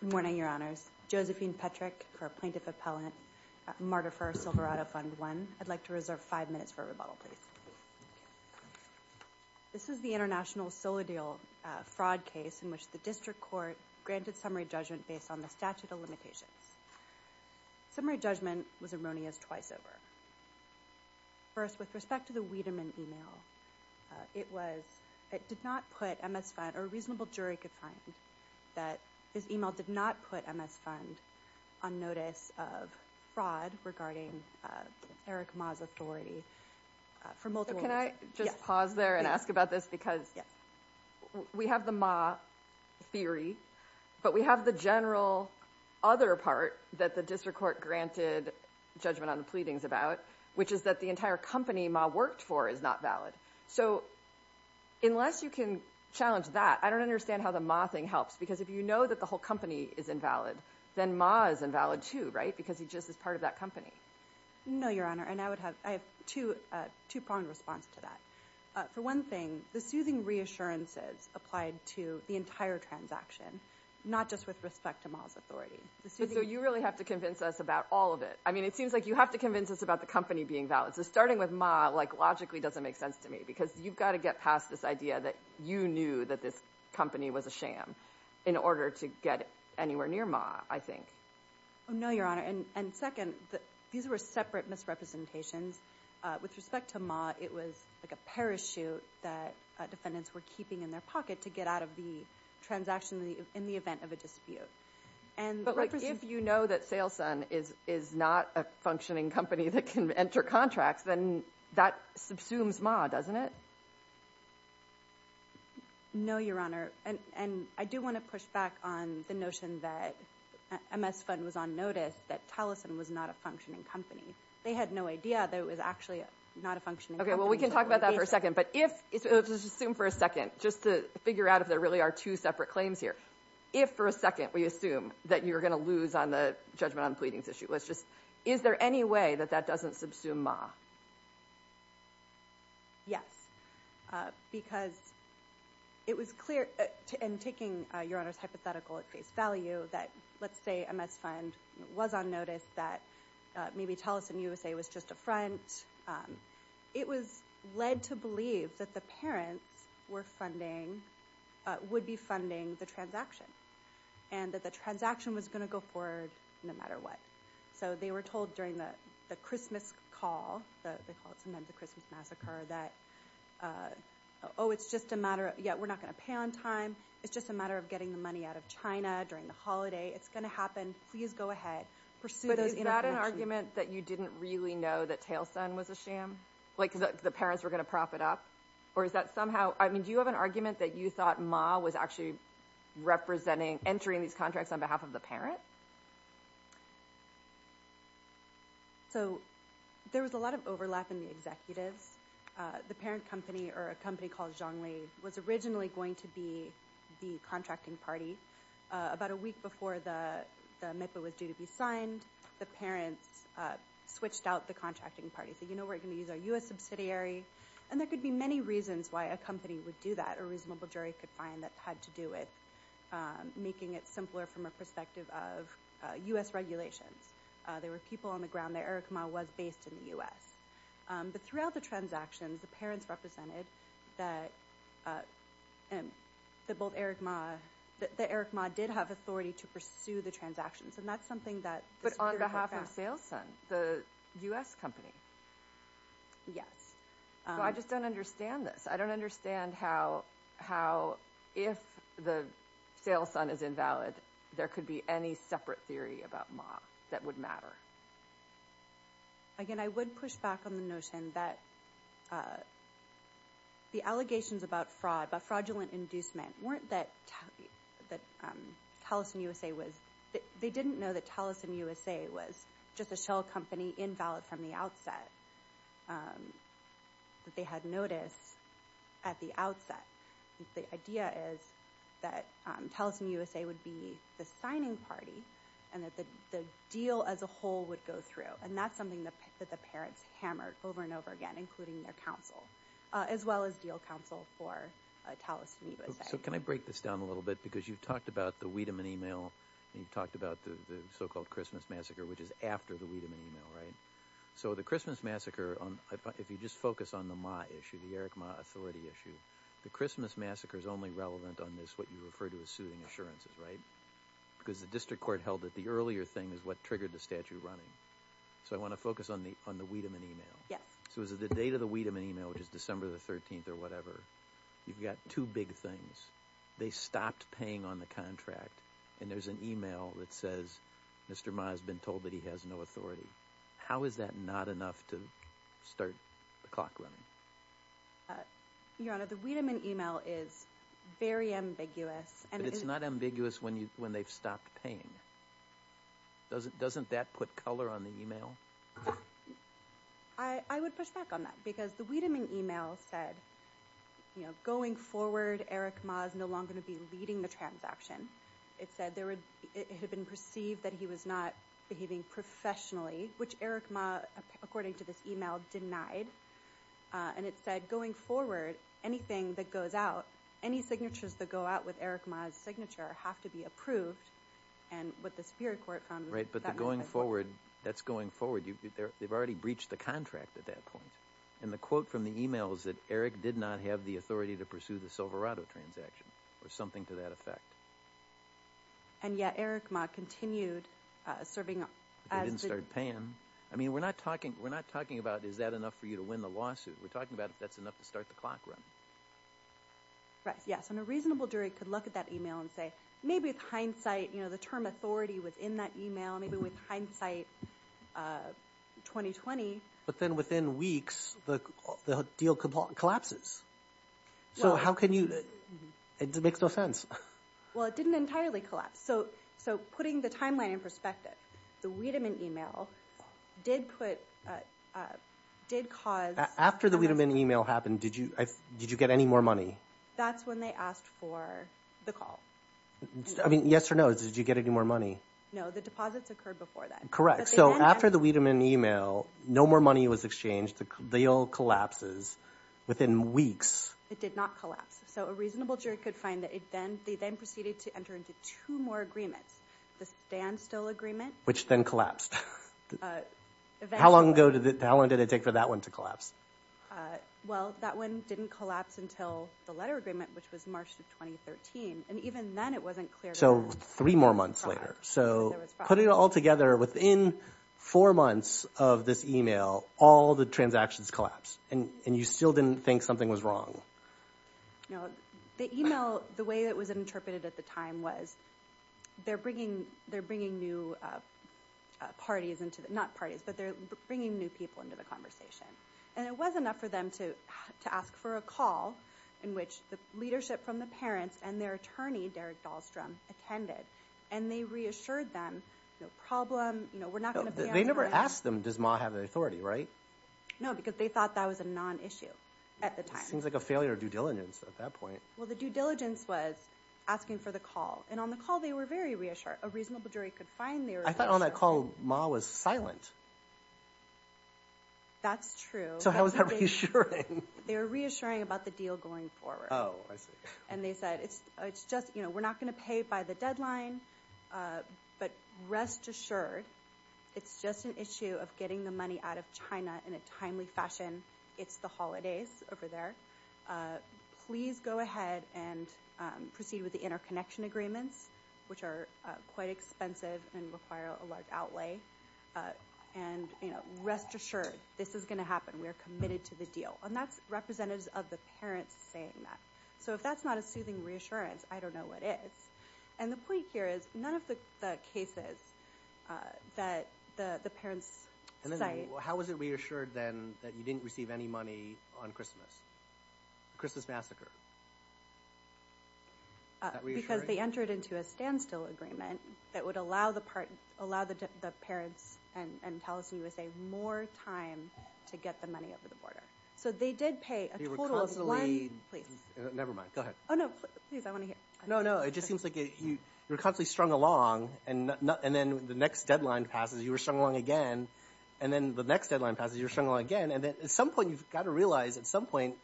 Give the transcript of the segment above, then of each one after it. Good morning, Your Honors. Josephine Petrick for Plaintiff Appellant, Martifer-Silverado Fund I. I'd like to reserve five minutes for a rebuttal, please. This is the international Soledil fraud case in which the District Court granted summary judgment based on the statute of limitations. Summary judgment was erroneous twice over. First, with respect to the Wiedemann email, it did not put MS Fund, or a reasonable jury could find, that his email did not put MS Fund on notice of fraud regarding Eric Ma's authority for multiple reasons. Can I just pause there and ask about this? Because we have the Ma theory, but we have the general other part that the District Court granted judgment on the pleadings about, which is that the entire company Ma worked for is not valid. So unless you can challenge that, I don't understand how the Ma thing helps. Because if you know that the whole company is invalid, then Ma is invalid too, right? Because he just is part of that company. No, Your Honor. And I have two-pronged response to that. For one thing, the soothing reassurances applied to the entire transaction, not just with respect to Ma's authority. So you really have to convince us about all of it. I mean, it seems like you have to convince us about the company being valid. So starting with Ma logically doesn't make sense to me, because you've got to get past this idea that you knew that this company was a sham in order to get anywhere near Ma, I think. No, Your Honor. And second, these were separate misrepresentations. With respect to Ma, it was like a parachute that defendants were keeping in their pocket to get out of the transaction in the event of a dispute. But if you know that Saleson is not a functioning company that can enter contracts, then that subsumes Ma, doesn't it? No, Your Honor. And I do want to push back on the notion that MS Fund was on notice that Taliesin was not a functioning company. They had no idea that it was actually not a functioning company. Okay, well, we can talk about that for a second. But if – let's just assume for a second, just to figure out if there really are two separate claims here. If for a second we assume that you're going to lose on the judgment on pleadings issue, let's just – is there any way that that doesn't subsume Ma? Yes, because it was clear – and taking Your Honor's hypothetical at face value, that let's say MS Fund was on notice that maybe Taliesin USA was just a front. It was led to believe that the parents were funding – would be funding the transaction and that the transaction was going to go forward no matter what. So they were told during the Christmas call – they call it sometimes the Christmas massacre – that, oh, it's just a matter of, yeah, we're not going to pay on time. It's just a matter of getting the money out of China during the holiday. It's going to happen. Please go ahead. Pursue those information. Do you have an argument that you didn't really know that Taliesin was a sham? Like the parents were going to prop it up? Or is that somehow – I mean, do you have an argument that you thought Ma was actually representing – entering these contracts on behalf of the parent? So there was a lot of overlap in the executives. The parent company, or a company called Zhongli, was originally going to be the contracting party. About a week before the MIPA was due to be signed, the parents switched out the contracting party, said, you know, we're going to use our U.S. subsidiary. And there could be many reasons why a company would do that. A reasonable jury could find that had to do with making it simpler from a perspective of U.S. regulations. There were people on the ground that Eric Ma was based in the U.S. But throughout the transactions, the parents represented that both Eric Ma – that Eric Ma did have authority to pursue the transactions. And that's something that – But on behalf of Saleson, the U.S. company. Yes. So I just don't understand this. I don't understand how, if the Saleson is invalid, there could be any separate theory about Ma that would matter. Again, I would push back on the notion that the allegations about fraud, about fraudulent inducement, weren't that Taliesin USA was – they didn't know that Taliesin USA was just a shell company invalid from the outset, that they had notice at the outset. The idea is that Taliesin USA would be the signing party and that the deal as a whole would go through. And that's something that the parents hammered over and over again, including their counsel, as well as deal counsel for Taliesin USA. So can I break this down a little bit? Because you've talked about the Wiedemann email and you've talked about the so-called Christmas massacre, which is after the Wiedemann email, right? So the Christmas massacre, if you just focus on the Ma issue, the Eric Ma authority issue, the Christmas massacre is only relevant on this, what you refer to as soothing assurances, right? Because the district court held that the earlier thing is what triggered the statute running. So I want to focus on the Wiedemann email. Yes. So is it the date of the Wiedemann email, which is December the 13th or whatever, you've got two big things. They stopped paying on the contract, and there's an email that says Mr. Ma has been told that he has no authority. How is that not enough to start the clock running? Your Honor, the Wiedemann email is very ambiguous. But it's not ambiguous when they've stopped paying. Doesn't that put color on the email? I would push back on that because the Wiedemann email said, you know, going forward, Eric Ma is no longer going to be leading the transaction. It said it had been perceived that he was not behaving professionally, which Eric Ma, according to this email, denied. And it said going forward, anything that goes out, any signatures that go out with Eric Ma's signature have to be approved. And what the Superior Court found was that that was not the case. Right, but the going forward, that's going forward. They've already breached the contract at that point. And the quote from the email is that Eric did not have the authority to pursue the Silverado transaction, or something to that effect. And yet Eric Ma continued serving as the- They didn't start paying. I mean, we're not talking about is that enough for you to win the lawsuit. We're talking about if that's enough to start the clock running. Right, yes, and a reasonable jury could look at that email and say, maybe with hindsight, you know, the term authority was in that email. Maybe with hindsight, 2020- But then within weeks, the deal collapses. So how can you- it makes no sense. Well, it didn't entirely collapse. So putting the timeline in perspective, the Wiedemann email did cause- After the Wiedemann email happened, did you get any more money? That's when they asked for the call. I mean, yes or no, did you get any more money? No, the deposits occurred before that. Correct, so after the Wiedemann email, no more money was exchanged. The deal collapses within weeks. It did not collapse. So a reasonable jury could find that they then proceeded to enter into two more agreements. The standstill agreement- Which then collapsed. How long did it take for that one to collapse? Well, that one didn't collapse until the letter agreement, which was March of 2013. And even then, it wasn't clear- So three more months later. So putting it all together, within four months of this email, all the transactions collapsed, and you still didn't think something was wrong. No, the email, the way it was interpreted at the time was they're bringing new parties into- not parties, but they're bringing new people into the conversation. And it was enough for them to ask for a call in which the leadership from the parents and their attorney, Derek Dahlstrom, attended. And they reassured them, no problem, we're not going to- They never asked them, does Ma have the authority, right? No, because they thought that was a non-issue at the time. It seems like a failure of due diligence at that point. Well, the due diligence was asking for the call. And on the call, they were very reassured. A reasonable jury could find they were- I thought on that call, Ma was silent. That's true. So how was that reassuring? They were reassuring about the deal going forward. Oh, I see. And they said, we're not going to pay by the deadline, but rest assured, it's just an issue of getting the money out of China in a timely fashion. It's the holidays over there. Please go ahead and proceed with the interconnection agreements, which are quite expensive and require a large outlay. And rest assured, this is going to happen. We are committed to the deal. And that's representatives of the parents saying that. So if that's not a soothing reassurance, I don't know what is. And the point here is none of the cases that the parents cite- How was it reassured then that you didn't receive any money on Christmas? The Christmas massacre. Is that reassuring? Because they entered into a standstill agreement that would allow the parents and Taliesin USA more time to get the money over the border. So they did pay a total of one- You were constantly- Please. Never mind. Go ahead. Oh, no. Please, I want to hear. No, no. It just seems like you were constantly strung along, and then the next deadline passes, you were strung along again, and then the next deadline passes, you were strung along again. And at some point, you've got to realize, at some point,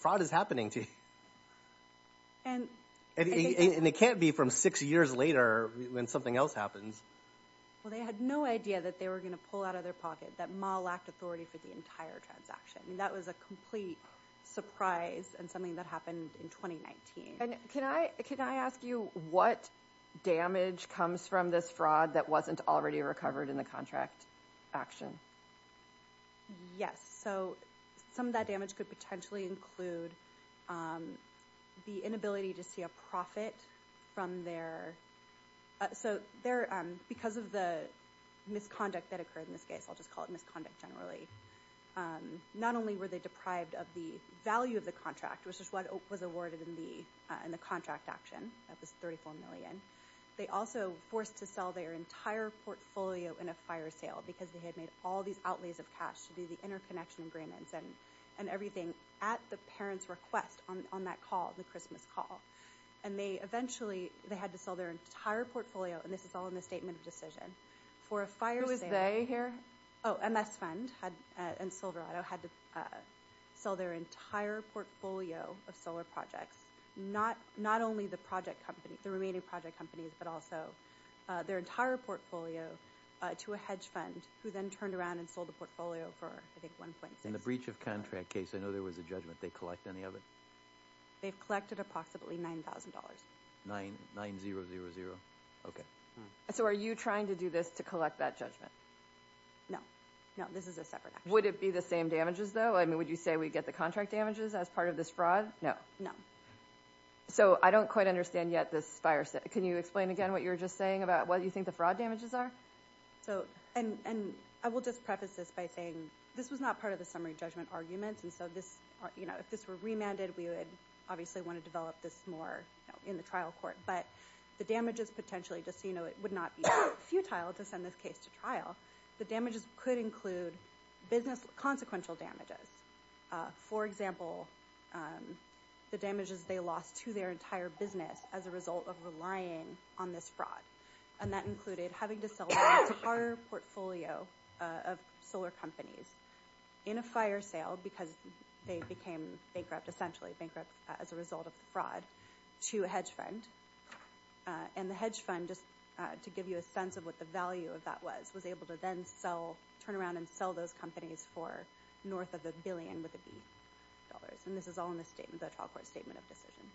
fraud is happening to you. And it can't be from six years later when something else happens. Well, they had no idea that they were going to pull out of their pocket, that Ma lacked authority for the entire transaction. That was a complete surprise and something that happened in 2019. And can I ask you what damage comes from this fraud that wasn't already recovered in the contract action? Yes. So some of that damage could potentially include the inability to see a profit from their- So because of the misconduct that occurred in this case, I'll just call it misconduct generally, not only were they deprived of the value of the contract, which is what was awarded in the contract action, that was $34 million, they also were forced to sell their entire portfolio in a fire sale because they had made all these outlays of cash to do the interconnection agreements and everything at the parent's request on that call, the Christmas call. And eventually they had to sell their entire portfolio, and this is all in the statement of decision, for a fire sale- Who was they here? Oh, MS Fund and Silverado had to sell their entire portfolio of solar projects, not only the remaining project companies, but also their entire portfolio to a hedge fund, who then turned around and sold the portfolio for, I think, $1.6 million. In the breach of contract case, I know there was a judgment. Did they collect any of it? They've collected approximately $9,000. $9,000? Okay. So are you trying to do this to collect that judgment? No. No, this is a separate action. Would it be the same damages, though? I mean, would you say we get the contract damages as part of this fraud? No. No. So I don't quite understand yet this fire sale. Can you explain again what you were just saying about what you think the fraud damages are? And I will just preface this by saying this was not part of the summary judgment argument, and so if this were remanded, we would obviously want to develop this more in the trial court. But the damages potentially, just so you know, it would not be futile to send this case to trial. The damages could include business consequential damages. For example, the damages they lost to their entire business as a result of relying on this fraud, and that included having to sell their entire portfolio of solar companies in a fire sale because they became bankrupt, essentially bankrupt as a result of the fraud, to a hedge fund. And the hedge fund, just to give you a sense of what the value of that was, was able to then turn around and sell those companies for north of the billion with the B dollars. And this is all in the trial court statement of decision.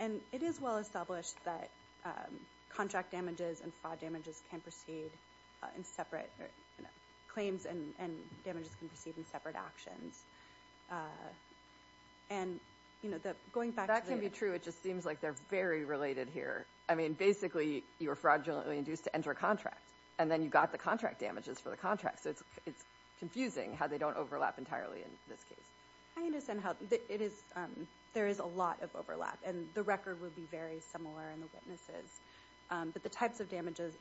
And it is well established that contract damages and fraud damages can proceed in separate claims and damages can proceed in separate actions. And, you know, going back to the- That can be true. It just seems like they're very related here. I mean, basically, you were fraudulently induced to enter a contract, and then you got the contract damages for the contract. So it's confusing how they don't overlap entirely in this case. I understand how- It is- There is a lot of overlap, and the record will be very similar in the witnesses. But the types of damages-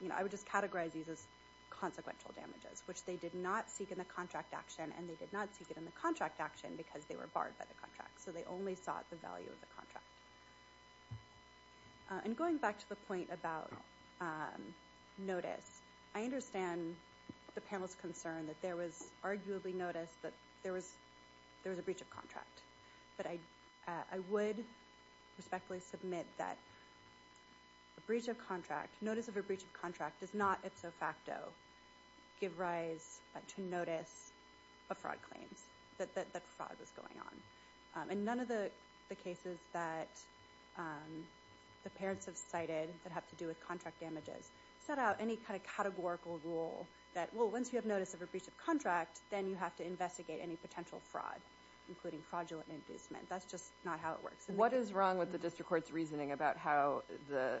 You know, I would just categorize these as consequential damages, which they did not seek in the contract action, and they did not seek it in the contract action because they were barred by the contract. So they only sought the value of the contract. And going back to the point about notice, I understand the panel's concern that there was arguably notice that there was a breach of contract. But I would respectfully submit that a breach of contract, notice of a breach of contract does not ipso facto give rise to notice of fraud claims, that fraud was going on. And none of the cases that the parents have cited that have to do with contract damages set out any kind of categorical rule that, well, once you have notice of a breach of contract, then you have to investigate any potential fraud, including fraudulent inducement. That's just not how it works. What is wrong with the district court's reasoning about how the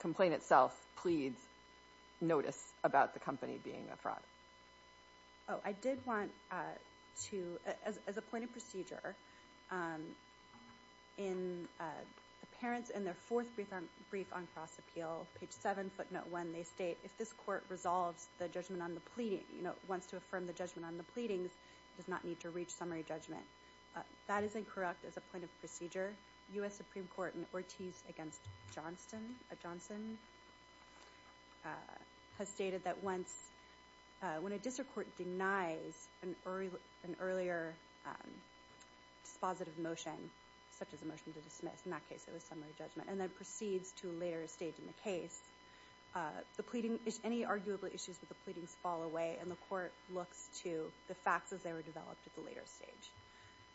complaint itself pleads notice about the company being a fraud? Oh, I did want to- As a point of procedure, in the parents in their fourth brief on cross-appeal, page 7, footnote 1, they state, if this court resolves the judgment on the pleading, you know, wants to affirm the judgment on the pleadings, it does not need to reach summary judgment. That is incorrect as a point of procedure. U.S. Supreme Court in Ortiz against Johnson has stated that once- if the court denies an earlier dispositive motion, such as a motion to dismiss, in that case it was summary judgment, and then proceeds to a later stage in the case, the pleading- any arguable issues with the pleadings fall away, and the court looks to the facts as they were developed at the later stage.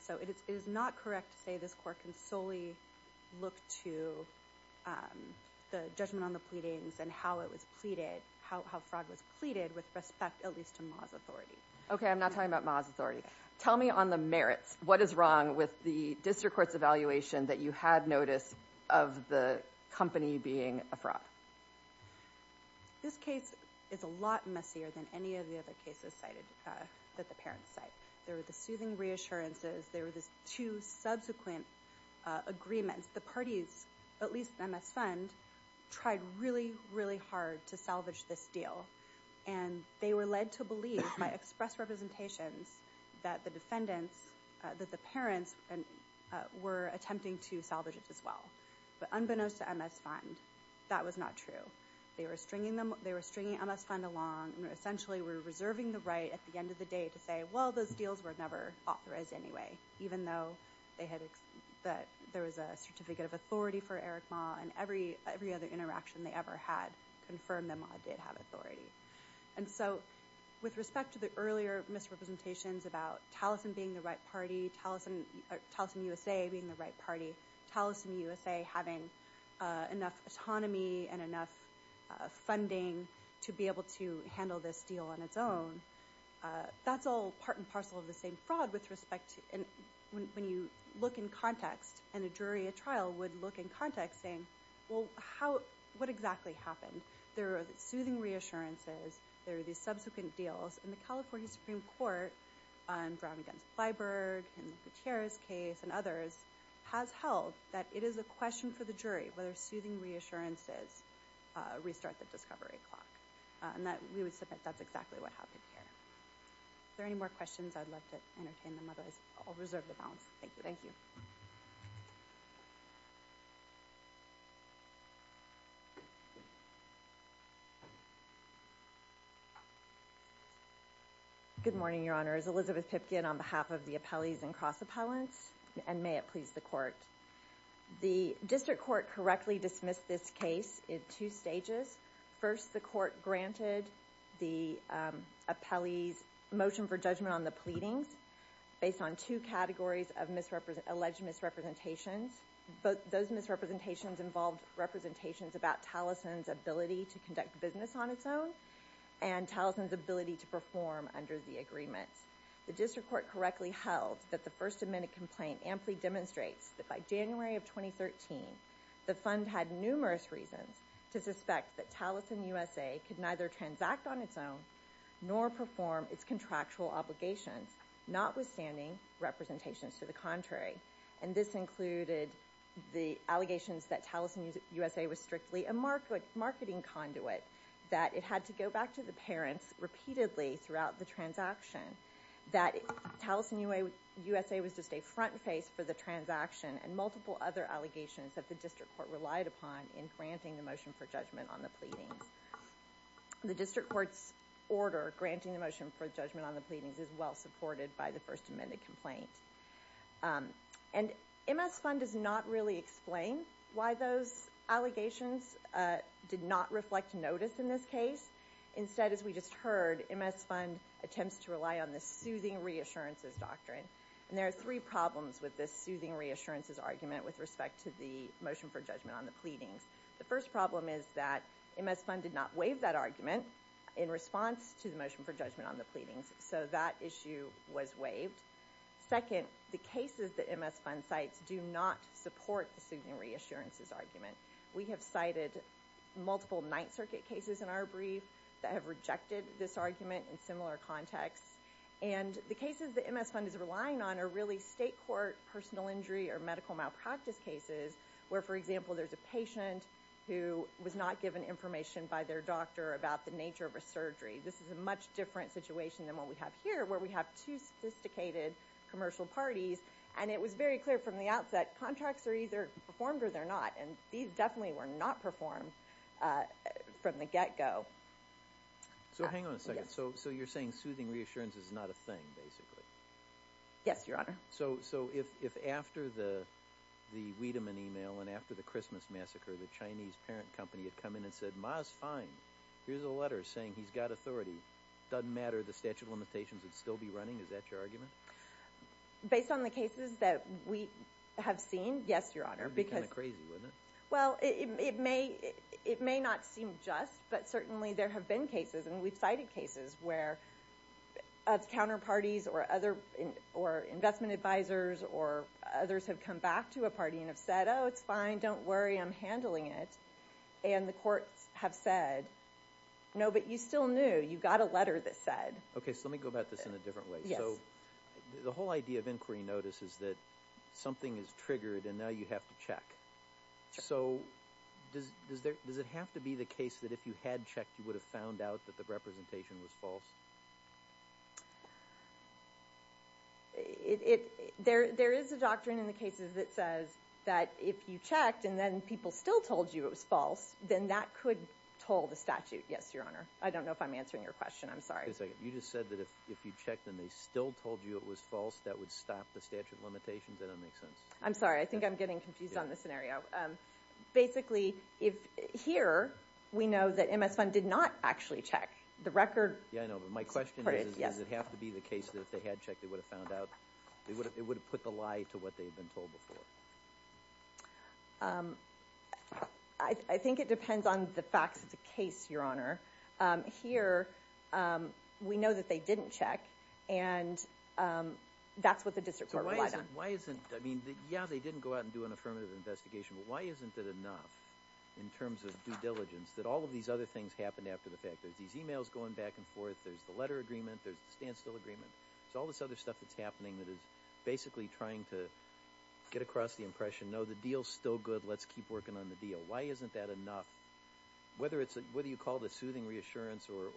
So it is not correct to say this court can solely look to the judgment on the pleadings and how it was pleaded- how fraud was pleaded with respect at least to Ma's authority. Okay, I'm not talking about Ma's authority. Tell me on the merits. What is wrong with the district court's evaluation that you had notice of the company being a fraud? This case is a lot messier than any of the other cases cited- that the parents cite. There were the soothing reassurances. There were the two subsequent agreements. The parties, at least the MS Fund, tried really, really hard to salvage this deal, and they were led to believe by express representations that the defendants- that the parents were attempting to salvage it as well. But unbeknownst to MS Fund, that was not true. They were stringing MS Fund along and essentially were reserving the right at the end of the day to say, well, those deals were never authorized anyway, even though there was a certificate of authority for Eric Ma and every other interaction they ever had confirmed that Ma did have authority. And so with respect to the earlier misrepresentations about Taliesin being the right party, Taliesin USA being the right party, Taliesin USA having enough autonomy and enough funding to be able to handle this deal on its own, that's all part and parcel of the same fraud with respect to- when you look in context and a jury at trial would look in context saying, well, what exactly happened? There are the soothing reassurances. There are the subsequent deals. And the California Supreme Court on Brown v. Bleiberg and Gutierrez's case and others has held that it is a question for the jury whether soothing reassurances restart the discovery clock. And we would submit that's exactly what happened here. If there are any more questions, I'd love to entertain them. Otherwise, I'll reserve the balance. Thank you. Good morning, Your Honor. My name is Elizabeth Pipkin on behalf of the appellees and cross-appellants. And may it please the Court. The District Court correctly dismissed this case in two stages. First, the Court granted the appellees' motion for judgment on the pleadings based on two categories of alleged misrepresentations. Those misrepresentations involved representations about Taliesin's ability to conduct business on its own and Taliesin's ability to perform under the agreements. The District Court correctly held that the First Amendment complaint amply demonstrates that by January of 2013, the Fund had numerous reasons to suspect that Taliesin USA could neither transact on its own nor perform its contractual obligations, notwithstanding representations to the contrary. And this included the allegations that Taliesin USA was strictly a marketing conduit, that it had to go back to the parents repeatedly throughout the transaction, that Taliesin USA was just a front face for the transaction, and multiple other allegations that the District Court relied upon in granting the motion for judgment on the pleadings. The District Court's order granting the motion for judgment on the pleadings is well supported by the First Amendment complaint. And MS Fund does not really explain why those allegations did not reflect notice in this case. Instead, as we just heard, MS Fund attempts to rely on the soothing reassurances doctrine. And there are three problems with this soothing reassurances argument with respect to the motion for judgment on the pleadings. The first problem is that MS Fund did not waive that argument in response to the motion for judgment on the pleadings, so that issue was waived. Second, the cases that MS Fund cites do not support the soothing reassurances argument. We have cited multiple Ninth Circuit cases in our brief that have rejected this argument in similar contexts. And the cases that MS Fund is relying on are really state court personal injury or medical malpractice cases where, for example, there's a patient who was not given information by their doctor about the nature of a surgery. This is a much different situation than what we have here, where we have two sophisticated commercial parties. And it was very clear from the outset, contracts are either performed or they're not. And these definitely were not performed from the get-go. So hang on a second. So you're saying soothing reassurances is not a thing, basically? Yes, Your Honor. So if after the Wiedemann email and after the Christmas massacre, the Chinese parent company had come in and said, Ma's fine, here's a letter saying he's got authority, doesn't matter, the statute of limitations would still be running? Is that your argument? Based on the cases that we have seen, yes, Your Honor. It would be kind of crazy, wouldn't it? Well, it may not seem just, but certainly there have been cases, and we've cited cases where counterparties or investment advisors or others have come back to a party and have said, oh, it's fine, don't worry, I'm handling it. And the courts have said, no, but you still knew, you got a letter that said. Okay, so let me go about this in a different way. So the whole idea of inquiry notice is that something is triggered and now you have to check. So does it have to be the case that if you had checked, you would have found out that the representation was false? There is a doctrine in the cases that says that if you checked and then people still told you it was false, then that could toll the statute. Yes, Your Honor. I don't know if I'm answering your question. I'm sorry. You just said that if you checked and they still told you it was false, that would stop the statute of limitations? That doesn't make sense. I'm sorry. I think I'm getting confused on this scenario. Basically, here we know that MS Fund did not actually check. Yeah, I know, but my question is, does it have to be the case that if they had checked, it would have put the lie to what they had been told before? I think it depends on the facts of the case, Your Honor. Here, we know that they didn't check, and that's what the district court relied on. Yeah, they didn't go out and do an affirmative investigation, but why isn't it enough in terms of due diligence that all of these other things happened after the fact? There's these e-mails going back and forth. There's the letter agreement. There's the standstill agreement. There's all this other stuff that's happening that is basically trying to get across the impression, no, the deal's still good. Let's keep working on the deal. Why isn't that enough? Whether you call it a soothing reassurance or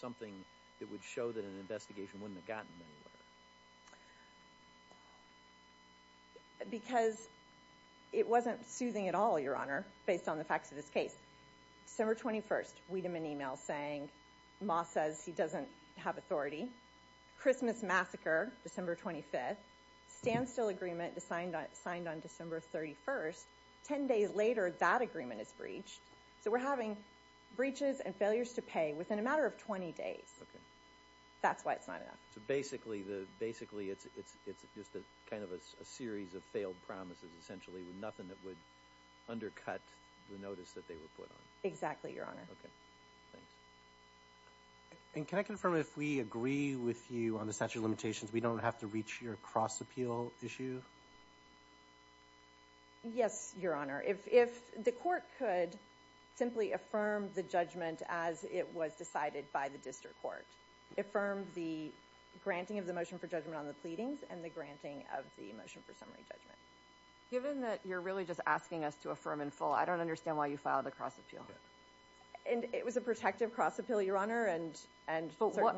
something that would show that an investigation wouldn't have gotten anywhere. Because it wasn't soothing at all, Your Honor, based on the facts of this case. December 21st, we'd have an e-mail saying, Ma says he doesn't have authority. Christmas massacre, December 25th. Standstill agreement signed on December 31st. Ten days later, that agreement is breached. So we're having breaches and failures to pay within a matter of 20 days. That's why it's not enough. So basically, it's just kind of a series of failed promises, essentially, with nothing that would undercut the notice that they were put on. Exactly, Your Honor. Okay, thanks. And can I confirm, if we agree with you on the statute of limitations, we don't have to reach your cross-appeal issue? Yes, Your Honor. If the court could simply affirm the judgment as it was decided by the district court. Affirm the granting of the motion for judgment on the pleadings and the granting of the motion for summary judgment. Given that you're really just asking us to affirm in full, I don't understand why you filed a cross-appeal. And it was a protective cross-appeal, Your Honor, and certainly...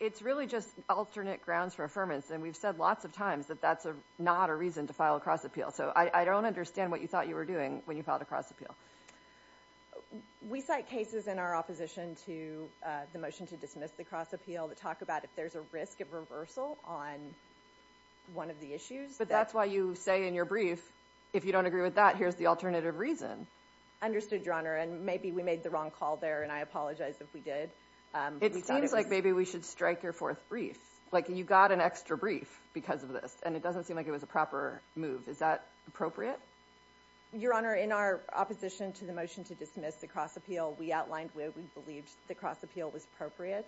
It's really just alternate grounds for affirmance, and we've said lots of times that that's not a reason to file a cross-appeal. So I don't understand what you thought you were doing when you filed a cross-appeal. We cite cases in our opposition to the motion to dismiss the cross-appeal that talk about if there's a risk of reversal on one of the issues. But that's why you say in your brief, if you don't agree with that, here's the alternative reason. Understood, Your Honor. And maybe we made the wrong call there, and I apologize if we did. It seems like maybe we should strike your fourth brief. Like, you got an extra brief because of this, and it doesn't seem like it was a proper move. Is that appropriate? Your Honor, in our opposition to the motion to dismiss the cross-appeal, we outlined where we believed the cross-appeal was appropriate,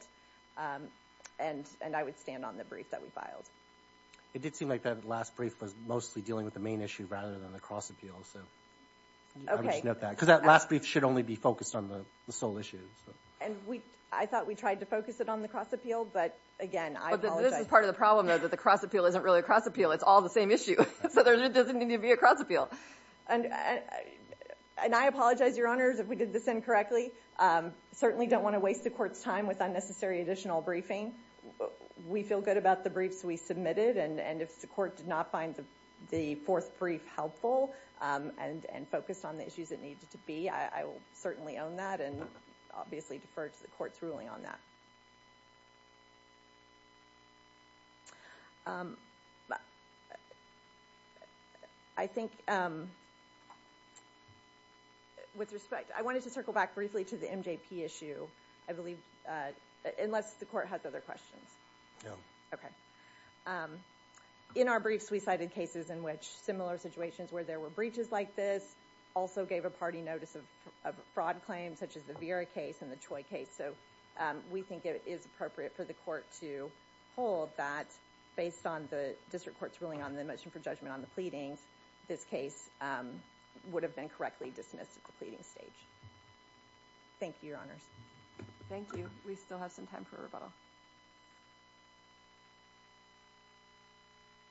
and I would stand on the brief that we filed. It did seem like that last brief was mostly dealing with the main issue rather than the cross-appeal, so... Okay. Because that last brief should only be focused on the sole issue. And I thought we tried to focus it on the cross-appeal, but again, I apologize. But this is part of the problem, though, that the cross-appeal isn't really a cross-appeal. It's all the same issue, so there doesn't need to be a cross-appeal. And I apologize, Your Honors, if we did this incorrectly. Certainly don't want to waste the Court's time with unnecessary additional briefing. We feel good about the briefs we submitted, and if the Court did not find the fourth brief helpful and focused on the issues it needed to be, I will certainly own that and obviously defer to the Court's ruling on that. I think... With respect, I wanted to circle back briefly to the MJP issue, I believe, unless the Court has other questions. No. Okay. In our briefs, we cited cases in which similar situations where there were breaches like this also gave a party notice of fraud claims, such as the Vera case and the Choi case. So we think it is appropriate for the Court to hold that based on the District Court's ruling on the motion for judgment on the pleadings, this case would have been correctly dismissed at the pleading stage. Thank you, Your Honors. Thank you. We still have some time for rebuttal.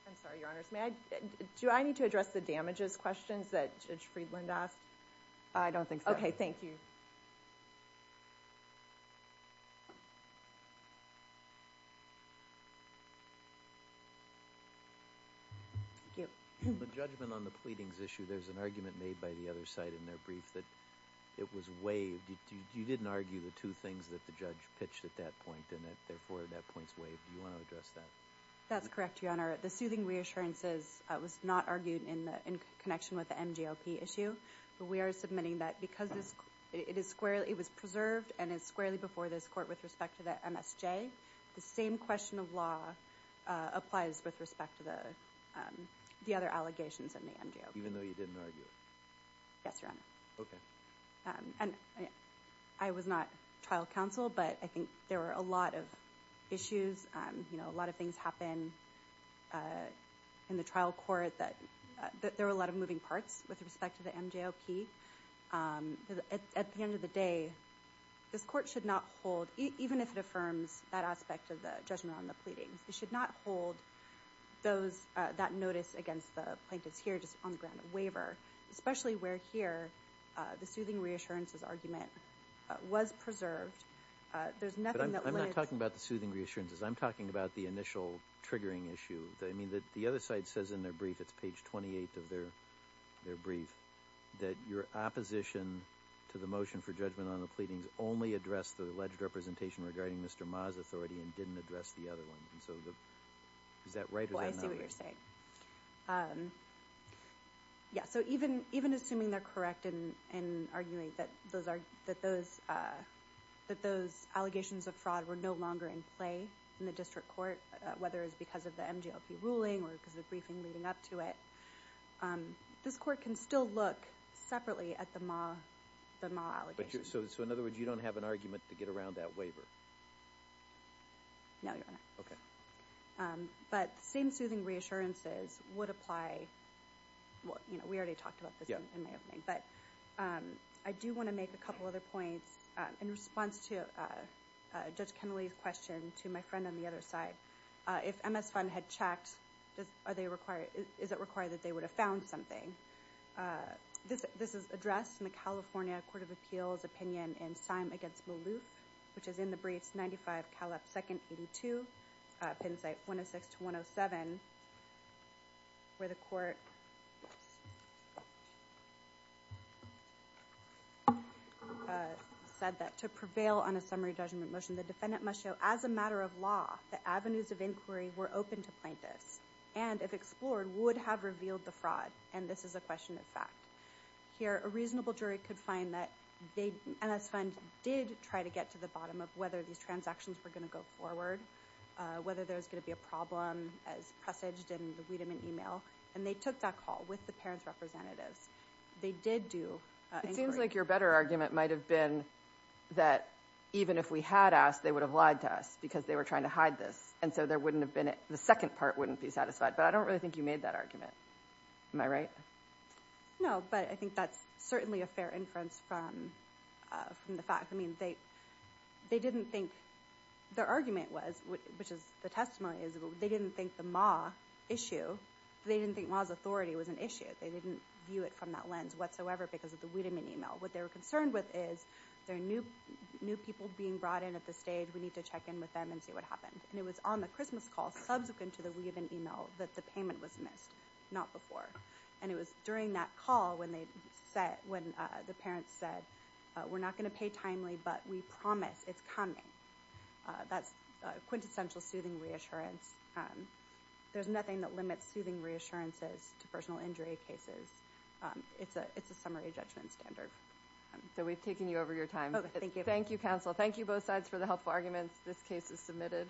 I'm sorry, Your Honors. Do I need to address the damages questions that Judge Friedland asked? I don't think so. Okay, thank you. Thank you. In the judgment on the pleadings issue, there's an argument made by the other side in their brief that it was waived. You didn't argue the two things that the judge pitched at that point and therefore that point's waived. Do you want to address that? That's correct, Your Honor. The soothing reassurances was not argued in connection with the MGOP issue, but we are submitting that because it was preserved and is squarely before this Court with respect to the MSJ, the same question of law applies with respect to the other allegations in the MGOP. Even though you didn't argue it? Yes, Your Honor. Okay. I was not trial counsel, but I think there were a lot of issues. You know, a lot of things happen in the trial court that there were a lot of moving parts with respect to the MGOP. At the end of the day, this Court should not hold, even if it affirms that aspect of the judgment on the pleadings, it should not hold that notice against the plaintiffs here just on the ground of waiver, especially where here the soothing reassurances argument was preserved. There's nothing that lives... You're talking about the initial triggering issue. I mean, the other side says in their brief, it's page 28 of their brief, that your opposition to the motion for judgment on the pleadings only addressed the alleged representation regarding Mr. Ma's authority and didn't address the other one. Is that right or is that not right? Oh, I see what you're saying. Yeah, so even assuming they're correct and arguing that those allegations of fraud were no longer in play in the district court, whether it's because of the MGOP ruling or because of the briefing leading up to it, this Court can still look separately at the Ma allegations. So in other words, you don't have an argument to get around that waiver? No, Your Honor. Okay. But the same soothing reassurances would apply... Well, you know, we already talked about this in the opening. But I do want to make a couple other points. In response to Judge Kennelly's question to my friend on the other side, if MS Fund had checked, is it required that they would have found something? This is addressed in the California Court of Appeals opinion in Syme v. Maloof, which is in the briefs 95, Caleb II, 82, Penn site 106-107, where the Court... ...said that to prevail on a summary judgment motion, the defendant must show, as a matter of law, that avenues of inquiry were open to plaintiffs and, if explored, would have revealed the fraud. And this is a question of fact. Here, a reasonable jury could find that MS Fund did try to get to the bottom of whether these transactions were going to go forward, whether there was going to be a problem as presaged in the Wiedemann email. And they took that call with the parents' representatives. They did do inquiry. It seems like your better argument might have been that, even if we had asked, they would have lied to us because they were trying to hide this, and so the second part wouldn't be satisfied. But I don't really think you made that argument. Am I right? No, but I think that's certainly a fair inference from the fact... I mean, they didn't think... Their argument was, which is the testimony is, they didn't think the Ma issue... They didn't think Ma's authority was an issue. They didn't view it from that lens whatsoever because of the Wiedemann email. What they were concerned with is, there are new people being brought in at this stage. We need to check in with them and see what happened. And it was on the Christmas call, subsequent to the Wiedemann email, that the payment was missed, not before. And it was during that call when the parents said, we're not going to pay timely, but we promise it's coming. That's quintessential soothing reassurance. There's nothing that limits soothing reassurances to personal injury cases. It's a summary judgment standard. So we've taken you over your time. Thank you, counsel. Thank you both sides for the helpful arguments. This case is submitted.